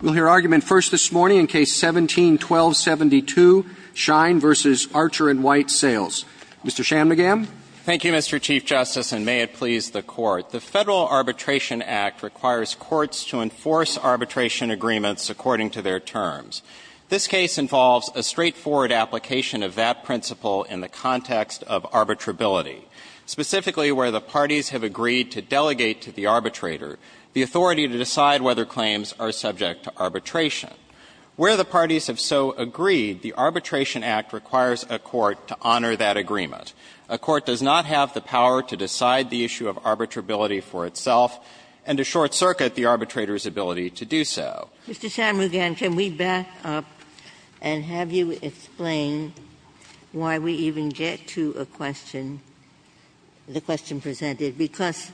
We'll hear argument first this morning in Case No. 17-1272, Schein v. Archer & White Sales. Mr. Shanmugam. Thank you, Mr. Chief Justice, and may it please the Court. The Federal Arbitration Act requires courts to enforce arbitration agreements according to their terms. This case involves a straightforward application of that principle in the context of arbitrability, specifically where the parties have agreed to delegate to the arbitrator the authority to decide whether claims are subject to arbitration. Where the parties have so agreed, the Arbitration Act requires a court to honor that agreement. A court does not have the power to decide the issue of arbitrability for itself and to short-circuit the arbitrator's ability to do so. Mr. Shanmugam, can we back up and have you explain why we even get to a question, the question presented, because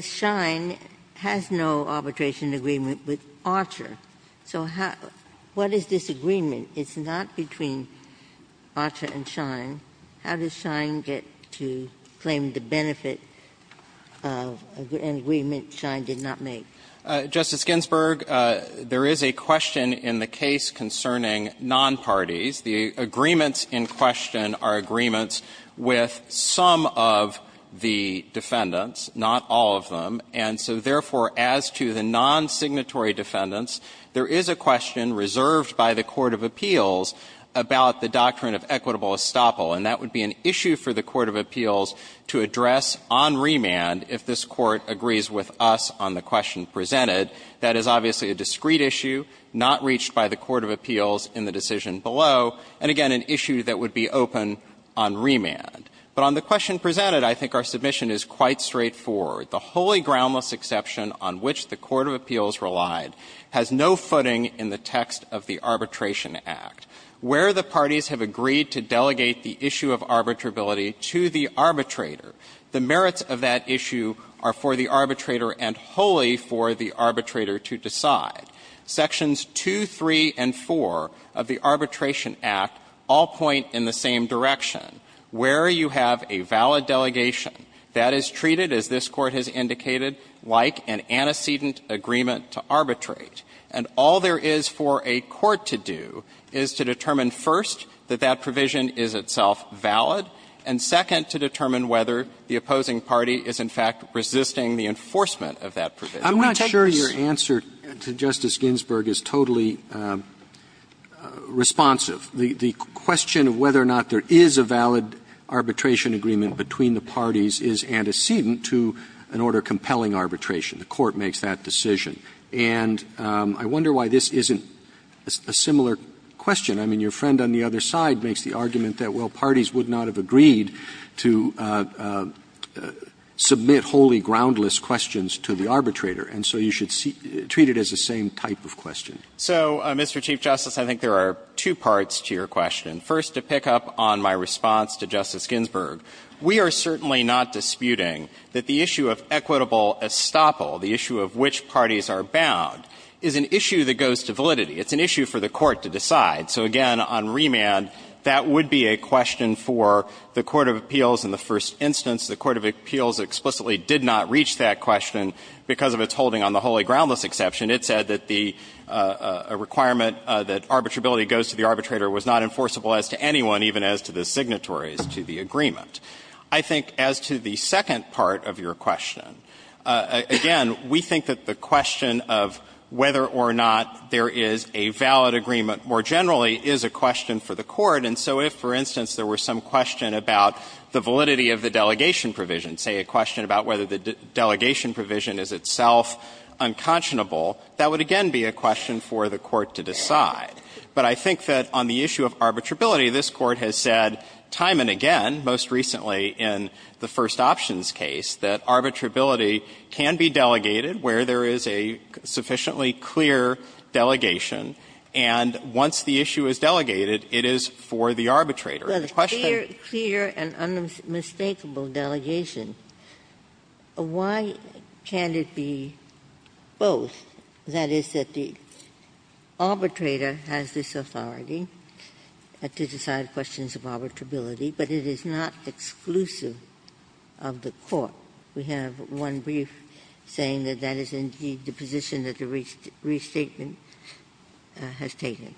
Schein has no arbitration agreement with Archer. So how – what is this agreement? It's not between Archer and Schein. How does Schein get to claim the benefit of an agreement Schein did not make? Justice Ginsburg, there is a question in the case concerning nonparties. The agreements in question are agreements with some of the defendants, not all of them. And so, therefore, as to the non-signatory defendants, there is a question reserved by the court of appeals about the doctrine of equitable estoppel, and that would be an issue for the court of appeals to address on remand if this Court agrees with us on the question presented. That is obviously a discrete issue, not reached by the court of appeals in the decision below, and, again, an issue that would be open on remand. But on the question presented, I think our submission is quite straightforward. The wholly groundless exception on which the court of appeals relied has no footing in the text of the Arbitration Act. Where the parties have agreed to delegate the issue of arbitrability to the arbitrator, the merits of that issue are for the arbitrator and wholly for the arbitrator to decide. Sections 2, 3, and 4 of the Arbitration Act all point in the same direction. Where you have a valid delegation, that is treated, as this Court has indicated, like an antecedent agreement to arbitrate. And all there is for a court to do is to determine, first, that that provision is itself valid, and, second, to determine whether the opposing party is, in fact, resisting the enforcement of that provision. Roberts. I'm not sure your answer to Justice Ginsburg is totally responsive. The question of whether or not there is a valid arbitration agreement between the parties is antecedent to an order compelling arbitration. The court makes that decision. And I wonder why this isn't a similar question. I mean, your friend on the other side makes the argument that, well, parties would not have agreed to submit wholly groundless questions to the arbitrator. And so you should treat it as the same type of question. So, Mr. Chief Justice, I think there are two parts to your question. First, to pick up on my response to Justice Ginsburg, we are certainly not disputing that the issue of equitable estoppel, the issue of which parties are bound, is an issue that goes to validity. It's an issue for the Court to decide. So, again, on remand, that would be a question for the court of appeals in the first instance. The court of appeals explicitly did not reach that question because of its holding on the wholly groundless exception. It said that the requirement that arbitrability goes to the arbitrator was not enforceable as to anyone, even as to the signatories to the agreement. I think as to the second part of your question, again, we think that the question of whether or not there is a valid agreement more generally is a question for the court. And so if, for instance, there were some question about the validity of the delegation provision, say a question about whether the delegation provision is itself unconscionable, that would again be a question for the court to decide. But I think that on the issue of arbitrability, this Court has said time and again, most recently in the first options case, that arbitrability can be delegated where there is a sufficiently clear delegation. And once the issue is delegated, it is for the arbitrator. The question of the question. Ginsburg. Well, the clear and unmistakable delegation, why can't it be both? That is, that the arbitrator has this authority to decide questions of arbitrability, but it is not exclusive of the court. We have one brief saying that that is indeed the position that the restatement has taken.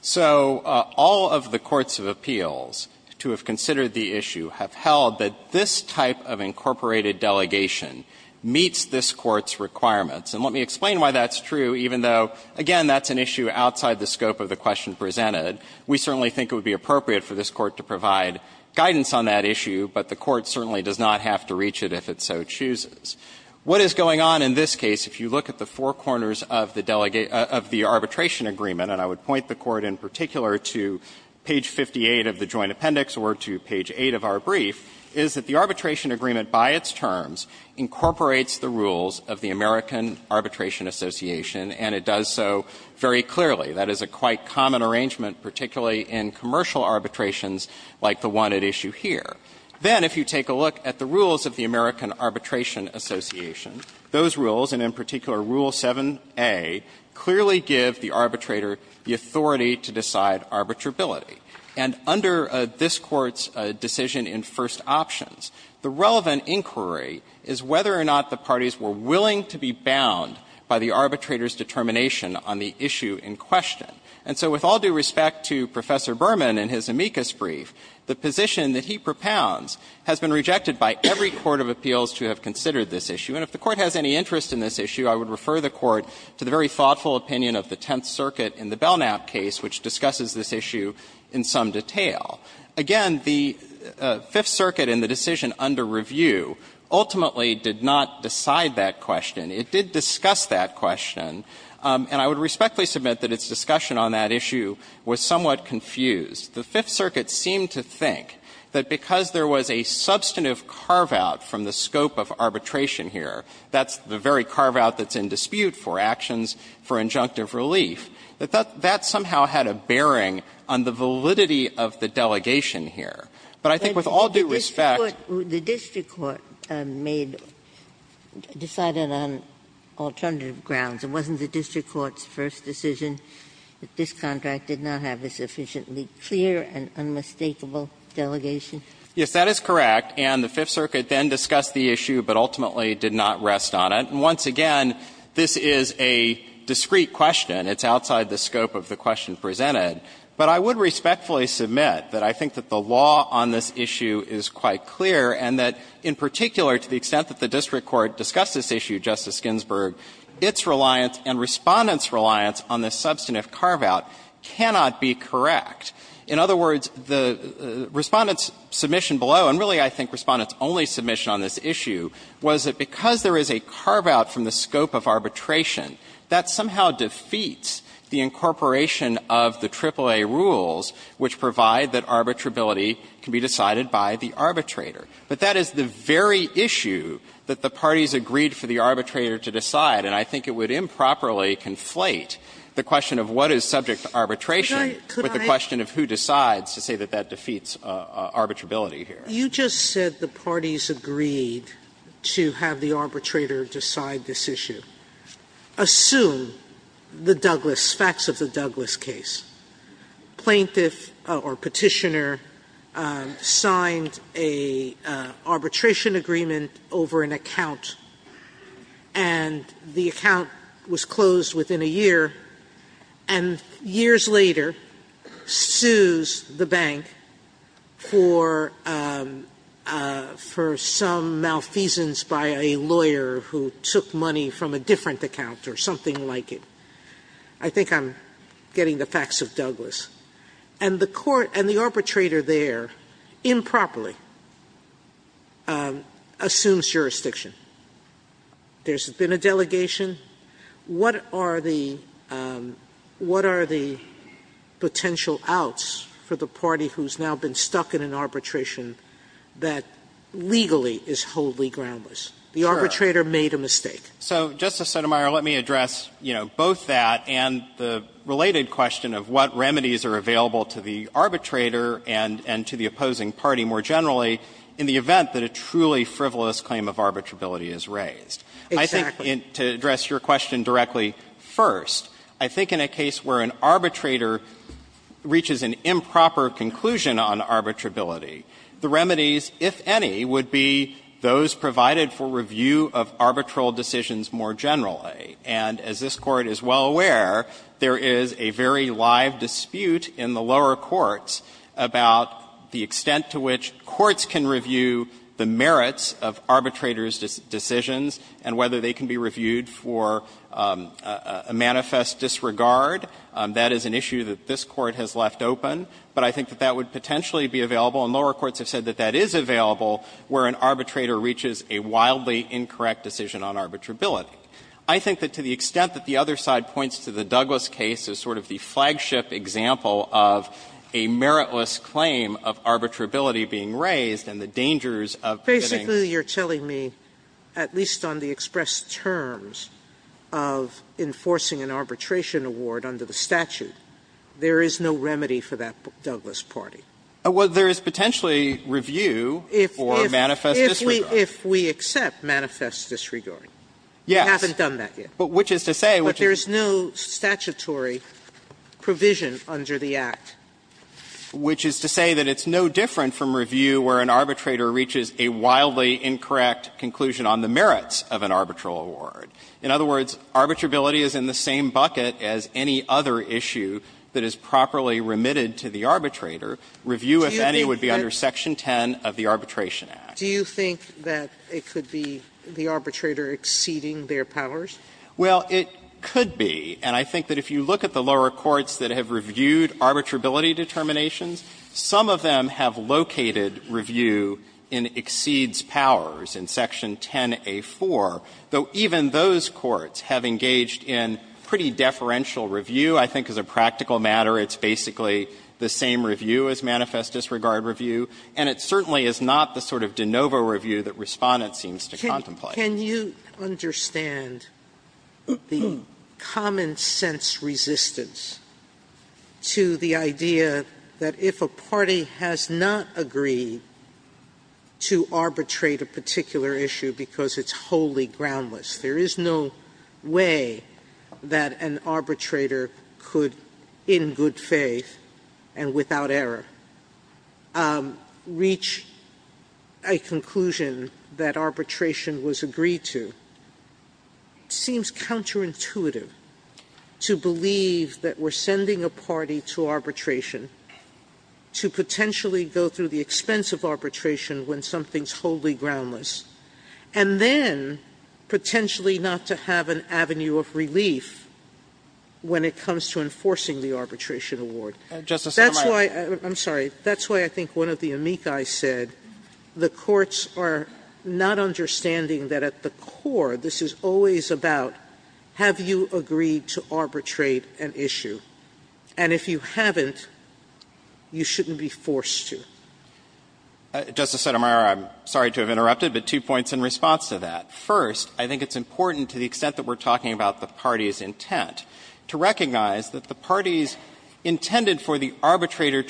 So all of the courts of appeals to have considered the issue have held that this type of incorporated delegation meets this Court's requirements. And let me explain why that's true, even though, again, that's an issue outside the scope of the question presented. We certainly think it would be appropriate for this Court to provide guidance on that issue, but the Court certainly does not have to reach it if it so chooses. What is going on in this case, if you look at the four corners of the arbitration agreement, and I would point the Court in particular to page 58 of the joint appendix or to page 8 of our brief, is that the arbitration agreement by its terms incorporates the rules of the American Arbitration Association, and it does so very clearly. That is a quite common arrangement, particularly in commercial arbitrations like the one at issue here. Then if you take a look at the rules of the American Arbitration Association, those rules, and in particular Rule 7a, clearly give the arbitrator the authority to decide arbitrability. And under this Court's decision in first options, the relevant inquiry is whether or not the parties were willing to be bound by the arbitrator's determination on the issue in question. And so with all due respect to Professor Berman and his amicus brief, the position that he propounds has been rejected by every court of appeals to have considered this issue. And if the Court has any interest in this issue, I would refer the Court to the very thoughtful opinion of the Tenth Circuit in the Belknap case, which discusses this issue in some detail. Again, the Fifth Circuit in the decision under review ultimately did not decide that question. It did discuss that question. And I would respectfully submit that its discussion on that issue was somewhat confused. The Fifth Circuit seemed to think that because there was a substantive carve-out from the scope of arbitration here, that's the very carve-out that's in dispute for actions for injunctive relief, that that somehow had a bearing on the validity of the delegation here. But I think with all due respect the District Court made, decided on alternative grounds. It wasn't the District Court's first decision that this contract did not have a sufficiently clear and unmistakable delegation? Yes, that is correct. And the Fifth Circuit then discussed the issue, but ultimately did not rest on it. And once again, this is a discrete question. It's outside the scope of the question presented. But I would respectfully submit that I think that the law on this issue is quite clear, and that in particular, to the extent that the District Court discussed this issue, Justice Ginsburg, its reliance and Respondent's reliance on this substantive carve-out cannot be correct. In other words, the Respondent's submission below, and really I think Respondent's only submission on this issue, was that because there is a carve-out from the scope of arbitration, that somehow defeats the incorporation of the AAA rules which provide that arbitrability can be decided by the arbitrator. But that is the very issue that the parties agreed for the arbitrator to decide. And I think it would improperly conflate the question of what is subject to arbitration with the question of who decides to say that that defeats arbitrability here. Sotomayor, you just said the parties agreed to have the arbitrator decide this issue. Assume the Douglass, facts of the Douglass case. Plaintiff or petitioner signed a arbitration agreement over an account, and the account was closed within a year, and years later, sues the bank for some malfeasance by a lawyer who took money from a different account or something like it. I think I'm getting the facts of Douglass. And the court and the arbitrator there improperly assumes jurisdiction. There's been a delegation. What are the – what are the potential outs for the party who's now been stuck in an arbitration that legally is wholly groundless? The arbitrator made a mistake. So, Justice Sotomayor, let me address, you know, both that and the related question of what remedies are available to the arbitrator and to the opposing party more generally in the event that a truly frivolous claim of arbitrability is raised. I think to address your question directly, first, I think in a case where an arbitrator reaches an improper conclusion on arbitrability, the remedies, if any, would be those that would be available to the parties who are in the lower courts to review arbitrations more generally. And as this Court is well aware, there is a very live dispute in the lower courts about the extent to which courts can review the merits of arbitrators' decisions and whether they can be reviewed for a manifest disregard. That is an issue that this Court has left open. But I think that that would potentially be available, and lower courts have said that that is available where an arbitrator reaches a wildly incorrect decision on arbitrability. I think that to the extent that the other side points to the Douglas case as sort of the flagship example of a meritless claim of arbitrability being raised and the dangers of committing. Sotomayor, at least on the express terms of enforcing an arbitration award under the statute, there is no remedy for that Douglas party. Well, there is potentially review or manifest disregard. If we accept manifest disregard. Yes. We haven't done that yet. But which is to say which is to say which is to say which is to say that it's no different from review where an arbitrator reaches a wildly incorrect conclusion on the merits of an arbitral award. In other words, arbitrability is in the same bucket as any other issue that is properly remitted to the arbitrator. Review, if any, would be under section 10 of the Arbitration Act. Do you think that it could be the arbitrator exceeding their powers? Well, it could be. And I think that if you look at the lower courts that have reviewed arbitrability determinations, some of them have located review in exceeds powers in section 10A4, though even those courts have engaged in pretty deferential review. I think as a practical matter, it's basically the same review as manifest disregard review, and it certainly is not the sort of de novo review that Respondent seems to contemplate. Sotomayor, can you understand the common sense resistance to the idea that if a party has not agreed to arbitrate a particular issue because it's wholly groundless, there is no way that an arbitrator could, in good faith and without error, reach a conclusion that arbitration was agreed to, it seems counterintuitive to believe that we're sending a party to arbitration to potentially go through the expense of arbitration when something's wholly groundless, and then potentially not to have an avenue of relief when it comes to enforcing the arbitration award. Justice Sotomayor. That's why – I'm sorry. That's why I think one of the amici said the courts are not understanding that at the core, this is always about have you agreed to arbitrate an issue? And if you haven't, you shouldn't be forced to. Justice Sotomayor, I'm sorry to have interrupted, but two points in response to that. First, I think it's important to the extent that we're talking about the party's intent to recognize that the party's intended for the arbitrator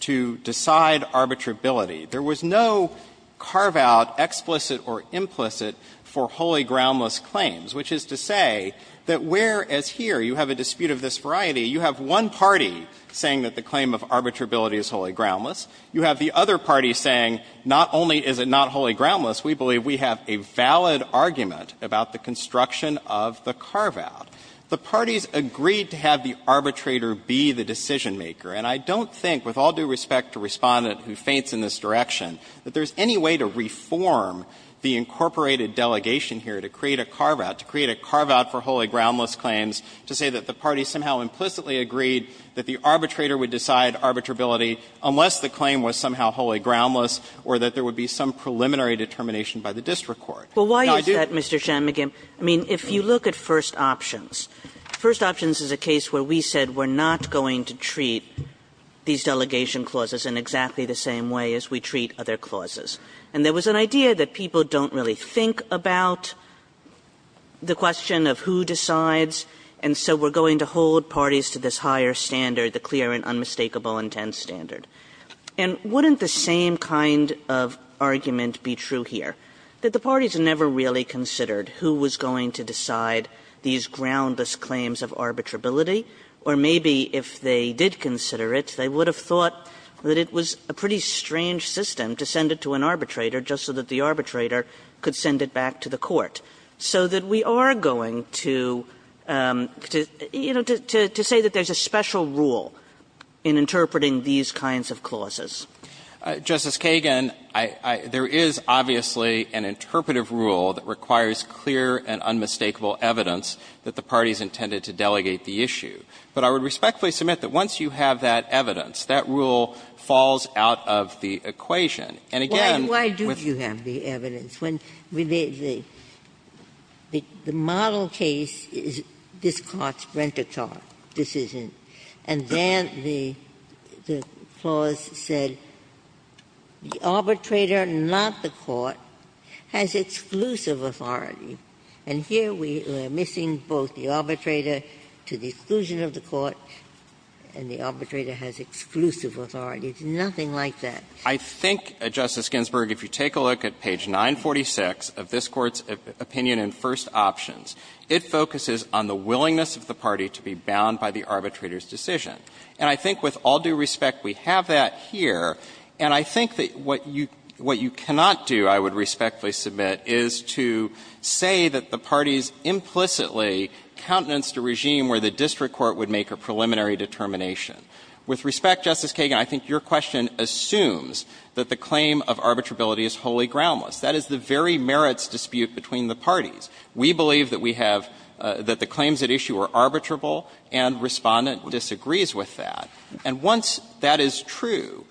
to decide arbitrability. There was no carve-out, explicit or implicit, for wholly groundless claims, which is to say that whereas here you have a dispute of this variety, you have one party saying that the claim of arbitrability is wholly groundless, you have the other party saying not only is it not wholly groundless, we believe we have a valid argument about the construction of the carve-out. The parties agreed to have the arbitrator be the decision-maker, and I don't think with all due respect to Respondent, who feints in this direction, that there is any way to reform the incorporated delegation here to create a carve-out, to create a carve-out for wholly groundless claims, to say that the party somehow implicitly agreed that the arbitrator would decide arbitrability unless the claim was somehow wholly groundless or that there would be some preliminary determination by the district court. Now, I do think that this is a case where we said we're not going to treat these delegation clauses in exactly the same way as we treat other clauses. And there was an idea that people don't really think about the question of who decides, and so we're going to hold parties to this higher standard, the clear and unmistakable intent standard. And wouldn't the same kind of argument be true here, that the parties never really considered who was going to decide these groundless claims of arbitrability, or maybe if they did consider it, they would have thought that it was a pretty strange system to send it to an arbitrator just so that the arbitrator could send it back to the court, so that we are going to, you know, to say that there's a special rule in interpreting these kinds of clauses? Justice Kagan, there is obviously an interpretive rule that requires clear and unmistakable evidence that the parties intended to delegate the issues. But I would respectfully submit that once you have that evidence, that rule falls out of the equation. And again, with the other case, the model case is this Court's Brenta Tarr decision. And then the clause said the arbitrator, not the court, has exclusive authority. And here we are missing both the arbitrator to the exclusion of the court and the arbitrator has exclusive authority. It's nothing like that. I think, Justice Ginsburg, if you take a look at page 946 of this Court's opinion in First Options, it focuses on the willingness of the party to be bound by the arbitrator's decision. And I think with all due respect, we have that here. And I think that what you cannot do, I would respectfully submit, is to say that the parties implicitly countenanced a regime where the district court would make a preliminary determination. With respect, Justice Kagan, I think your question assumes that the claim of arbitrability is wholly groundless. That is the very merits dispute between the parties. We believe that we have the claims at issue are arbitrable and Respondent disagrees with that. And once that is true,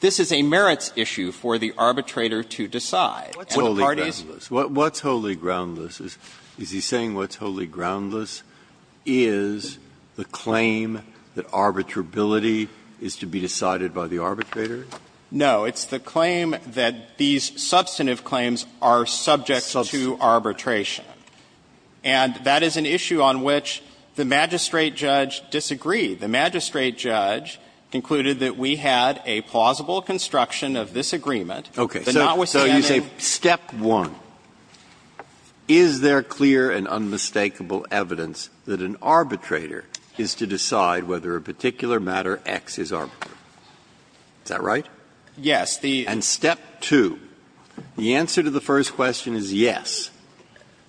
this is a merits issue for the arbitrator to decide. And the parties ---- Breyer, what's wholly groundless? Is he saying what's wholly groundless is the claim that arbitrability is to be decided by the arbitrator? No. It's the claim that these substantive claims are subject to arbitration. And that is an issue on which the magistrate judge disagreed. The magistrate judge concluded that we had a plausible construction of this agreement. Breyer, so you say step one, is there clear and unmistakable evidence that an arbitrator is to decide whether a particular matter X is arbitrable? Is that right? Yes. And step two, the answer to the first question is yes.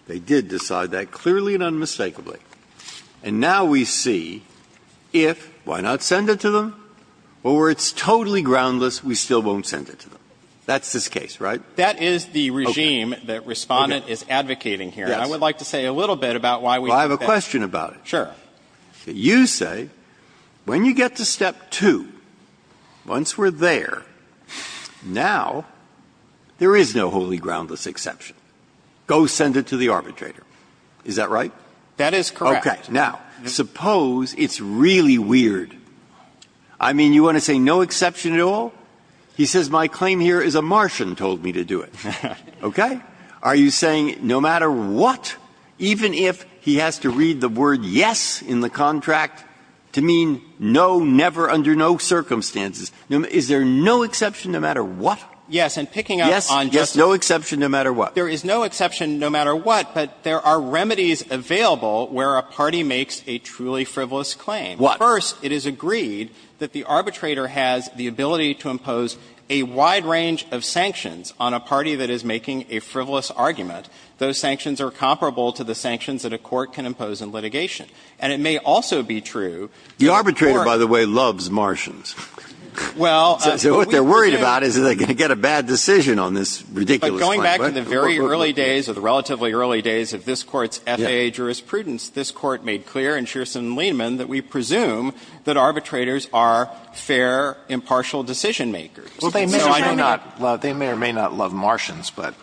They did decide that clearly and unmistakably. And now we see if, why not send it to them? Or it's totally groundless, we still won't send it to them. That's this case, right? That is the regime that Respondent is advocating here. I would like to say a little bit about why we think that. Well, I have a question about it. Sure. You say when you get to step two, once we're there, now there is no wholly groundless exception. Go send it to the arbitrator. Is that right? That is correct. Okay. Now, suppose it's really weird. I mean, you want to say no exception at all? He says my claim here is a Martian told me to do it. Okay? Are you saying no matter what, even if he has to read the word yes in the contract to mean no, never, under no circumstances, is there no exception no matter what? Yes. And picking up on Justice Breyer's question, there is no exception no matter what, but there are remedies available where a party makes a truly frivolous claim. What? First, it is agreed that the arbitrator has the ability to impose a wide range of sanctions on a party that is making a frivolous argument. Those sanctions are comparable to the sanctions that a court can impose in litigation. And it may also be true that the court — The arbitrator, by the way, loves Martians. Well — So what they're worried about is that they're going to get a bad decision on this ridiculous claim. Well, going back to the very early days or the relatively early days of this Court's FAA jurisprudence, this Court made clear in Shearson-Lehman that we presume that arbitrators are fair, impartial decision-makers. Well, they may or may not love Martians, but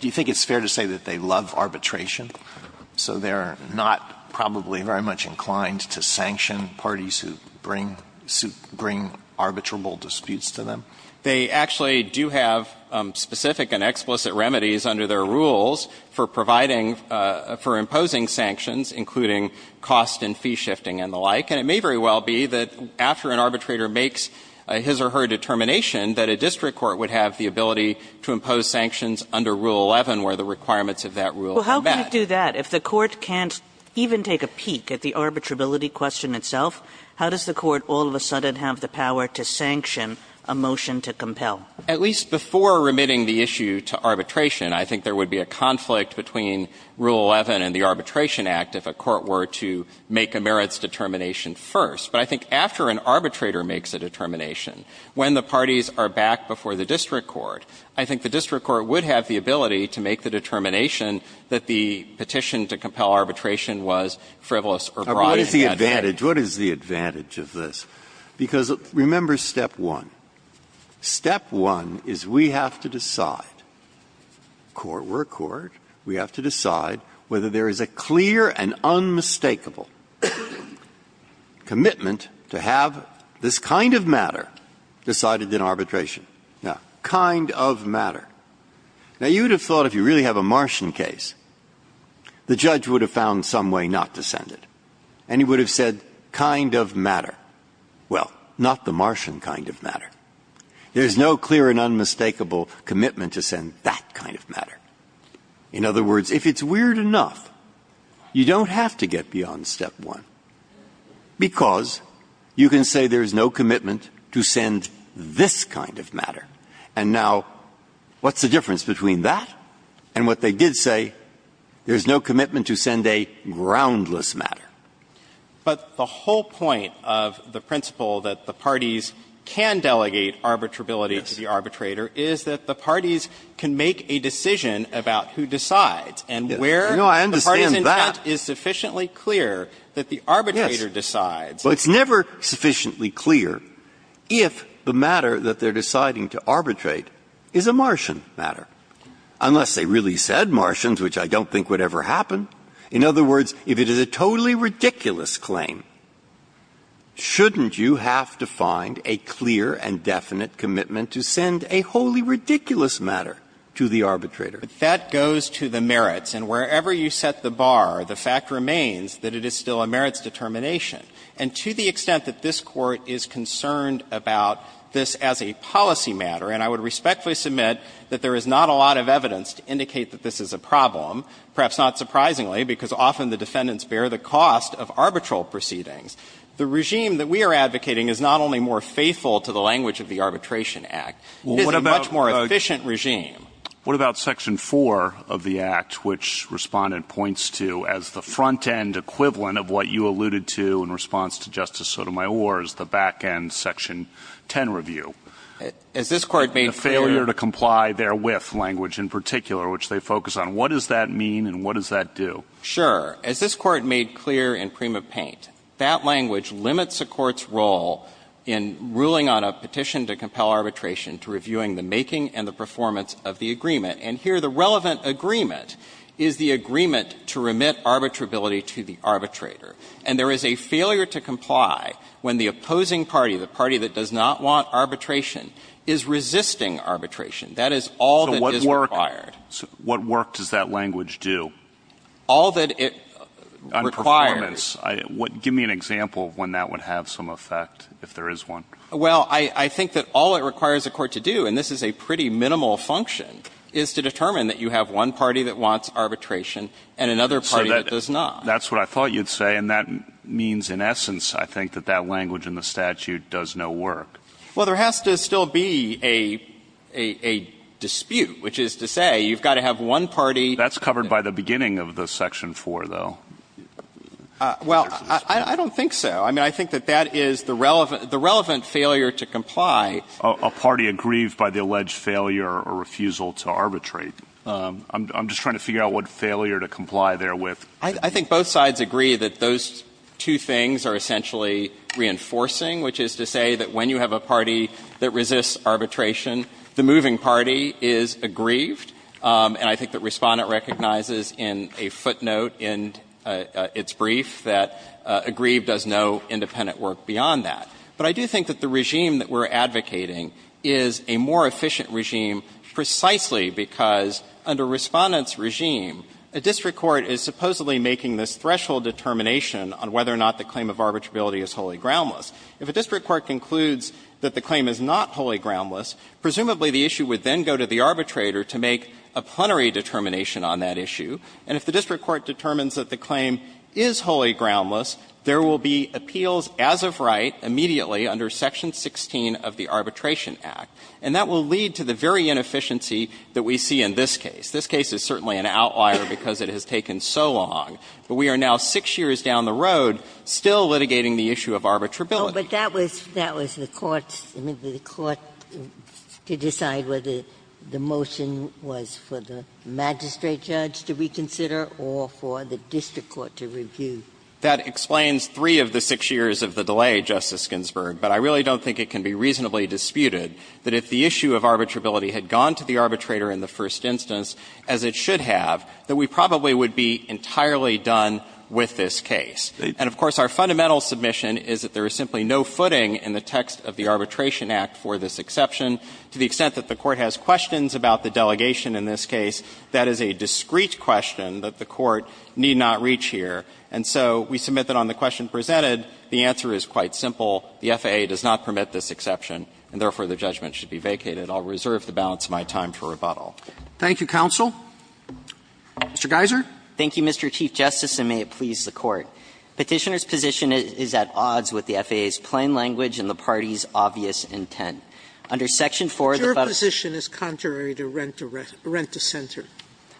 do you think it's fair to say that they love arbitration? So they're not probably very much inclined to sanction parties who bring arbitrable disputes to them? They actually do have specific and explicit remedies under their rules for providing — for imposing sanctions, including cost and fee shifting and the like. And it may very well be that after an arbitrator makes his or her determination that a district court would have the ability to impose sanctions under Rule 11 where the requirements of that rule are met. Well, how can you do that if the court can't even take a peek at the arbitrability question itself? How does the court all of a sudden have the power to sanction a motion to compel? At least before remitting the issue to arbitration, I think there would be a conflict between Rule 11 and the Arbitration Act if a court were to make a merits determination first. But I think after an arbitrator makes a determination, when the parties are back before the district court, I think the district court would have the ability to make the determination that the petition to compel arbitration was frivolous or broad. Breyer. What is the advantage of this? Because remember step one. Step one is we have to decide, court were court, we have to decide whether there is a clear and unmistakable commitment to have this kind of matter decided in arbitration. Now, kind of matter. Now, you would have thought if you really have a Martian case, the judge would have found some way not to send it. And he would have said kind of matter. Well, not the Martian kind of matter. There is no clear and unmistakable commitment to send that kind of matter. In other words, if it's weird enough, you don't have to get beyond step one, because you can say there is no commitment to send this kind of matter. And now, what's the difference between that and what they did say? There is no commitment to send a groundless matter. But the whole point of the principle that the parties can delegate arbitrability to the arbitrator is that the parties can make a decision about who decides and where the party's intent is sufficiently clear that the arbitrator decides. Well, it's never sufficiently clear if the matter that they are deciding to arbitrate is a Martian matter. Unless they really said Martians, which I don't think would ever happen. In other words, if it is a totally ridiculous claim, shouldn't you have to find a clear and definite commitment to send a wholly ridiculous matter to the arbitrator? That goes to the merits. And wherever you set the bar, the fact remains that it is still a merits determination. And to the extent that this Court is concerned about this as a policy matter, and I would argue that there is not a lot of evidence to indicate that this is a problem, perhaps not surprisingly, because often the defendants bear the cost of arbitral proceedings, the regime that we are advocating is not only more faithful to the language of the Arbitration Act, it is a much more efficient regime. What about Section 4 of the Act, which Respondent points to as the front-end equivalent of what you alluded to in response to Justice Sotomayor's, the back-end Section 10 review? As this Court made clear — And the failure to comply therewith language in particular, which they focus on. What does that mean and what does that do? Sure. As this Court made clear in Prima Paint, that language limits a court's role in ruling on a petition to compel arbitration to reviewing the making and the performance of the agreement. And here the relevant agreement is the agreement to remit arbitrability to the arbitrator. And there is a failure to comply when the opposing party, the party that does not want arbitration, is resisting arbitration. That is all that is required. So what work does that language do? All that it requires. On performance. Give me an example of when that would have some effect, if there is one. Well, I think that all it requires a court to do, and this is a pretty minimal function, is to determine that you have one party that wants arbitration and another party that does not. That's what I thought you'd say, and that means in essence I think that that language in the statute does no work. Well, there has to still be a dispute, which is to say you've got to have one party That's covered by the beginning of the Section 4, though. Well, I don't think so. I mean, I think that that is the relevant failure to comply. A party aggrieved by the alleged failure or refusal to arbitrate. I'm just trying to figure out what failure to comply there with. I think both sides agree that those two things are essentially reinforcing, which is to say that when you have a party that resists arbitration, the moving party is aggrieved. And I think that Respondent recognizes in a footnote in its brief that aggrieved does no independent work beyond that. But I do think that the regime that we're advocating is a more efficient regime precisely because under Respondent's regime, a district court is supposedly making this threshold determination on whether or not the claim of arbitrability is wholly groundless. If a district court concludes that the claim is not wholly groundless, presumably the issue would then go to the arbitrator to make a plenary determination on that issue. And if the district court determines that the claim is wholly groundless, there will be appeals as of right immediately under Section 16 of the Arbitration Act. And that will lead to the very inefficiency that we see in this case. This case is certainly an outlier because it has taken so long. But we are now six years down the road still litigating the issue of arbitrability. Ginsburg. But that was the court's – I mean, the court to decide whether the motion was for the magistrate judge to reconsider or for the district court to review. That explains three of the six years of the delay, Justice Ginsburg. But I really don't think it can be reasonably disputed that if the issue of arbitrability had gone to the arbitrator in the first instance, as it should have, that we probably would be entirely done with this case. And, of course, our fundamental submission is that there is simply no footing in the text of the Arbitration Act for this exception. To the extent that the Court has questions about the delegation in this case, that is a discrete question that the Court need not reach here. And so we submit that on the question presented, the answer is quite simple. The FAA does not permit this exception, and therefore the judgment should be vacated. I'll reserve the balance of my time for rebuttal. Roberts. Thank you, counsel. Mr. Geiser. Thank you, Mr. Chief Justice, and may it please the Court. Petitioner's position is at odds with the FAA's plain language and the party's obvious intent. Under section 4 of the federal statute, the FAA's position is contrary to Rent-to-Center.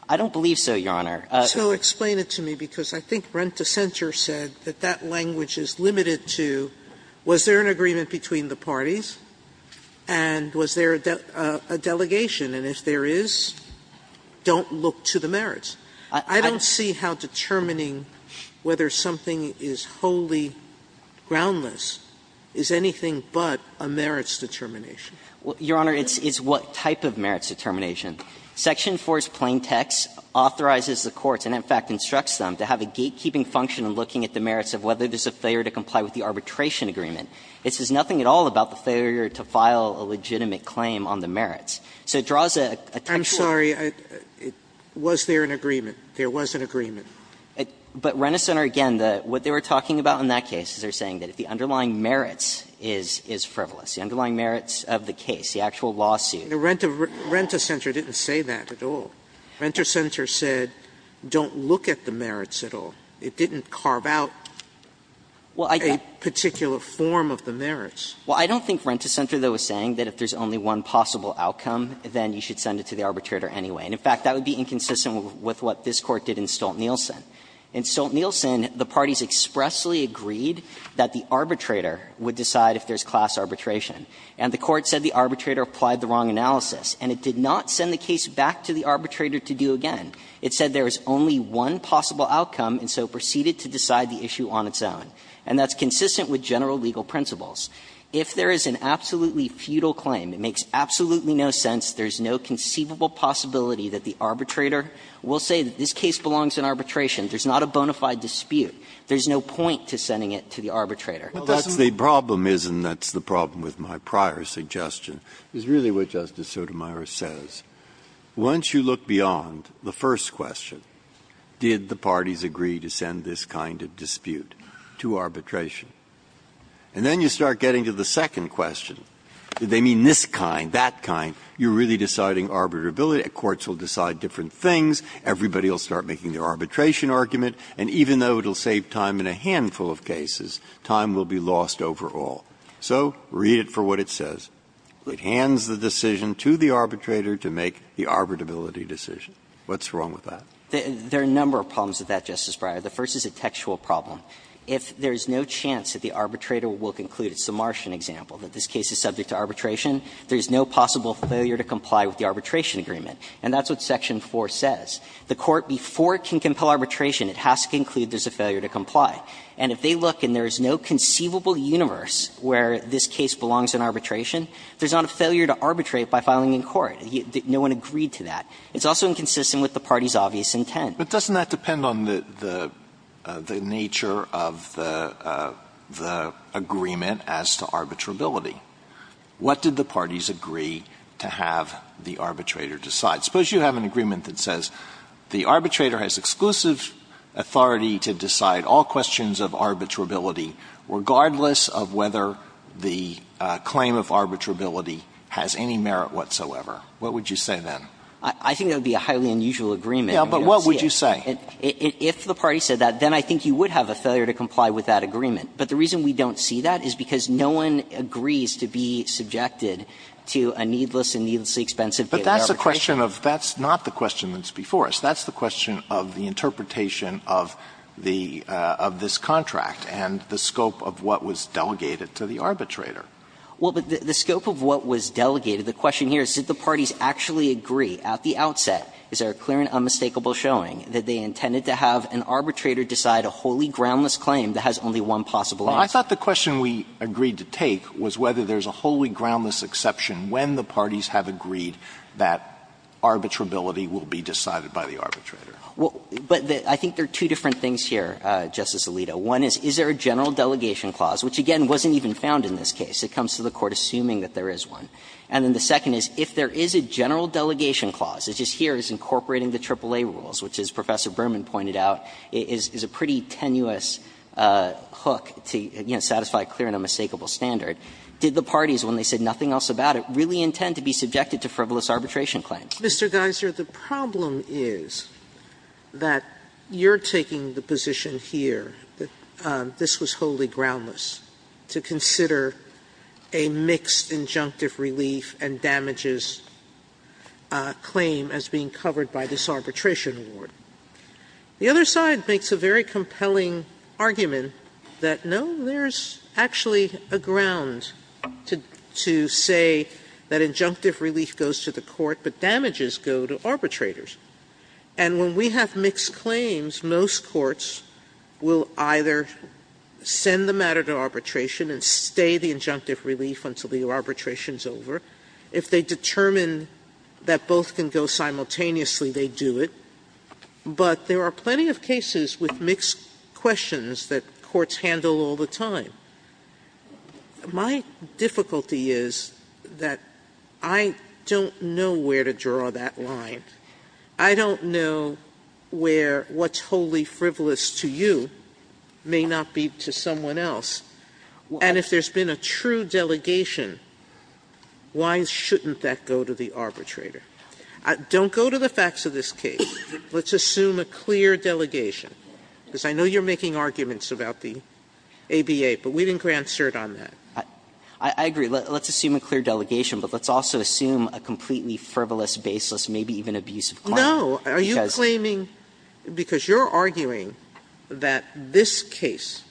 I don't believe so, Your Honor. So explain it to me, because I think Rent-to-Center said that that language is limited to was there an agreement between the parties and was there a delegation, and if there is, don't look to the merits. I don't see how determining whether something is wholly groundless is anything but a merits determination. Your Honor, it's what type of merits determination. Section 4's plain text authorizes the courts, and in fact instructs them, to have a gatekeeping function in looking at the merits of whether there's a failure to comply with the arbitration agreement. It says nothing at all about the failure to file a legitimate claim on the merits. So it draws a textual. Sotomayor, I'm sorry. Was there an agreement? There was an agreement. But Rent-to-Center, again, what they were talking about in that case is they're saying that if the underlying merits is frivolous, the underlying merits of the case, the actual lawsuit. Rent-to-Center didn't say that at all. Rent-to-Center said don't look at the merits at all. It didn't carve out a particular form of the merits. Well, I don't think Rent-to-Center, though, is saying that if there's only one possible outcome, then you should send it to the arbitrator anyway. And in fact, that would be inconsistent with what this Court did in Stolt-Nielsen. In Stolt-Nielsen, the parties expressly agreed that the arbitrator would decide if there's class arbitration. And the Court said the arbitrator applied the wrong analysis, and it did not send the case back to the arbitrator to do again. It said there is only one possible outcome, and so proceeded to decide the issue on its own. And that's consistent with general legal principles. If there is an absolutely futile claim, it makes absolutely no sense, there's no conceivable possibility that the arbitrator will say that this case belongs in arbitration. There's not a bona fide dispute. There's no point to sending it to the arbitrator. Breyer. Breyer. The problem is, and that's the problem with my prior suggestion, is really what Justice Sotomayor says. Once you look beyond the first question, did the parties agree to send this kind of dispute to arbitration? And then you start getting to the second question. Did they mean this kind, that kind? You're really deciding arbitrability. Courts will decide different things. Everybody will start making their arbitration argument. And even though it will save time in a handful of cases, time will be lost overall. So read it for what it says. It hands the decision to the arbitrator to make the arbitrability decision. What's wrong with that? There are a number of problems with that, Justice Breyer. The first is a textual problem. If there is no chance that the arbitrator will conclude, it's the Martian example, that this case is subject to arbitration, there is no possible failure to comply with the arbitration agreement. And that's what section 4 says. The court, before it can compel arbitration, it has to conclude there's a failure to comply. And if they look and there is no conceivable universe where this case belongs in arbitration, there's not a failure to arbitrate by filing in court. No one agreed to that. It's also inconsistent with the party's obvious intent. But doesn't that depend on the nature of the agreement as to arbitrability? What did the parties agree to have the arbitrator decide? Suppose you have an agreement that says the arbitrator has exclusive authority to decide all questions of arbitrability regardless of whether the claim of arbitrability has any merit whatsoever. What would you say then? I think that would be a highly unusual agreement. Alito, but what would you say? If the party said that, then I think you would have a failure to comply with that agreement. But the reason we don't see that is because no one agrees to be subjected to a needless and needlessly expensive given arbitration. But that's a question of the interpretation of this contract and the scope of what was delegated to the arbitrator. Well, but the scope of what was delegated, the question here is did the parties actually agree at the outset? Is there a clear and unmistakable showing that they intended to have an arbitrator decide a wholly groundless claim that has only one possible answer? Well, I thought the question we agreed to take was whether there's a wholly groundless exception when the parties have agreed that arbitrability will be decided by the arbitrator. Well, but I think there are two different things here, Justice Alito. One is, is there a general delegation clause, which again wasn't even found in this case. It comes to the Court assuming that there is one. And then the second is, if there is a general delegation clause, which is here, is incorporating the AAA rules, which is, Professor Berman pointed out, is a pretty tenuous hook to satisfy a clear and unmistakable standard, did the parties, when they said nothing else about it, really intend to be subjected to frivolous arbitration claims? Mr. Geiser, the problem is that you're taking the position here that this was wholly groundless to consider a mixed injunctive relief and damages claim as being covered by this arbitration award. The other side makes a very compelling argument that, no, there's actually a ground to say that injunctive relief goes to the court, but damages go to arbitrators. And when we have mixed claims, most courts will either send the matter to arbitration and stay the injunctive relief until the arbitration is over. If they determine that both can go simultaneously, they do it. But there are plenty of cases with mixed questions that courts handle all the time. My difficulty is that I don't know where to draw that line. I don't know where what's wholly frivolous to you may not be to someone else. And if there's been a true delegation, why shouldn't that go to the arbitrator? Don't go to the facts of this case. Let's assume a clear delegation, because I know you're making arguments about the ABA, but we didn't grant cert on that. I agree. Let's assume a clear delegation, but let's also assume a completely frivolous case that's baseless, maybe even abusive. Sotomayor No. Are you claiming, because you're arguing that this case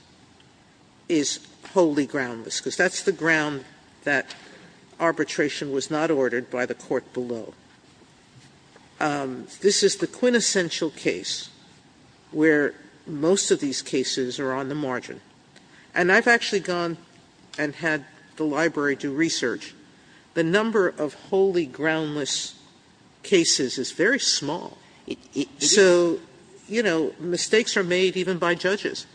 is wholly groundless, because that's the ground that arbitration was not ordered by the court below. This is the quintessential case where most of these cases are on the margin. And I've actually gone and had the library do research. The number of wholly groundless cases is very small. So, you know, mistakes are made even by judges.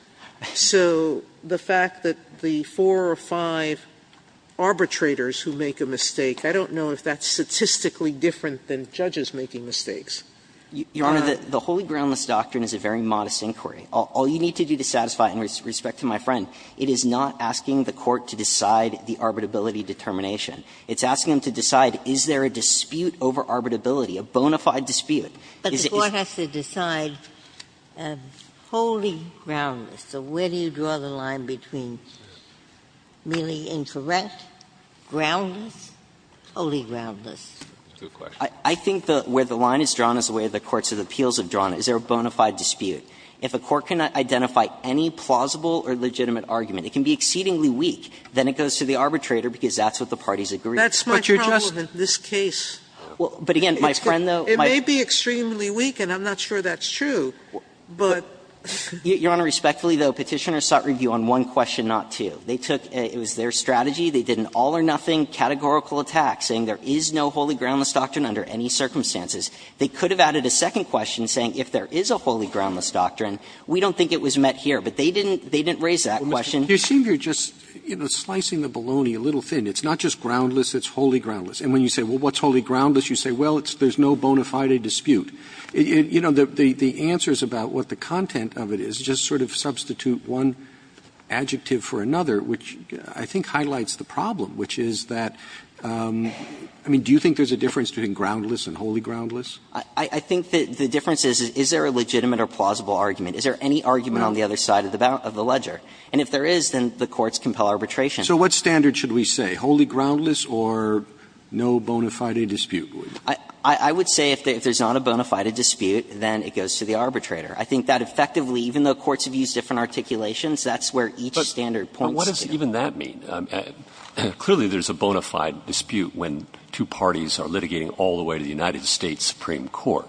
So the fact that the four or five arbitrators who make a mistake, I don't know if that's statistically different than judges making mistakes. Your Honor, the wholly groundless doctrine is a very modest inquiry. All you need to do to satisfy, and with respect to my friend, it is not asking the court to decide the arbitrability determination. It's asking them to decide, is there a dispute over arbitrability, a bona fide dispute? Is it the court has to decide wholly groundless, so where do you draw the line between merely incorrect, groundless, wholly groundless? I think where the line is drawn is the way the courts of appeals have drawn it. Is there a bona fide dispute? If a court cannot identify any plausible or legitimate argument, it can be exceedingly weak, then it goes to the arbitrator because that's what the parties agree. Sotomayor, That's my problem in this case. It may be extremely weak, and I'm not sure that's true, but. Dreeben, Your Honor, respectfully, though, Petitioner sought review on one question, not two. They took their strategy. They did an all or nothing categorical attack, saying there is no wholly groundless doctrine under any circumstances. They could have added a second question saying if there is a wholly groundless doctrine, we don't think it was met here, but they didn't raise that question. Roberts, you seem to be just slicing the bologna a little thin. It's not just groundless, it's wholly groundless. And when you say, well, what's wholly groundless, you say, well, there's no bona fide dispute. You know, the answers about what the content of it is just sort of substitute one adjective for another, which I think highlights the problem, which is that, I mean, do you think there's a difference between groundless and wholly groundless? Dreeben, I think the difference is, is there a legitimate or plausible argument? Is there any argument on the other side of the ledger? And if there is, then the courts compel arbitration. So what standard should we say, wholly groundless or no bona fide dispute? I would say if there's not a bona fide dispute, then it goes to the arbitrator. I think that effectively, even though courts have used different articulations, that's where each standard points to. But what does even that mean? Clearly, there's a bona fide dispute when two parties are litigating all the way to the United States Supreme Court.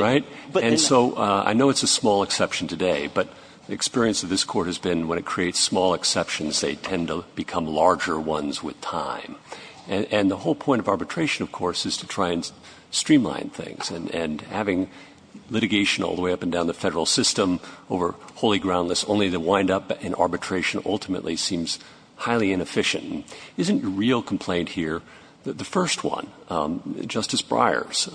Right? And so I know it's a small exception today, but the experience of this court has been when it creates small exceptions, they tend to become larger ones with time. And the whole point of arbitration, of course, is to try and streamline things. And having litigation all the way up and down the federal system over wholly groundless, only to wind up in arbitration ultimately seems highly inefficient. Isn't your real complaint here the first one, Justice Breyer's,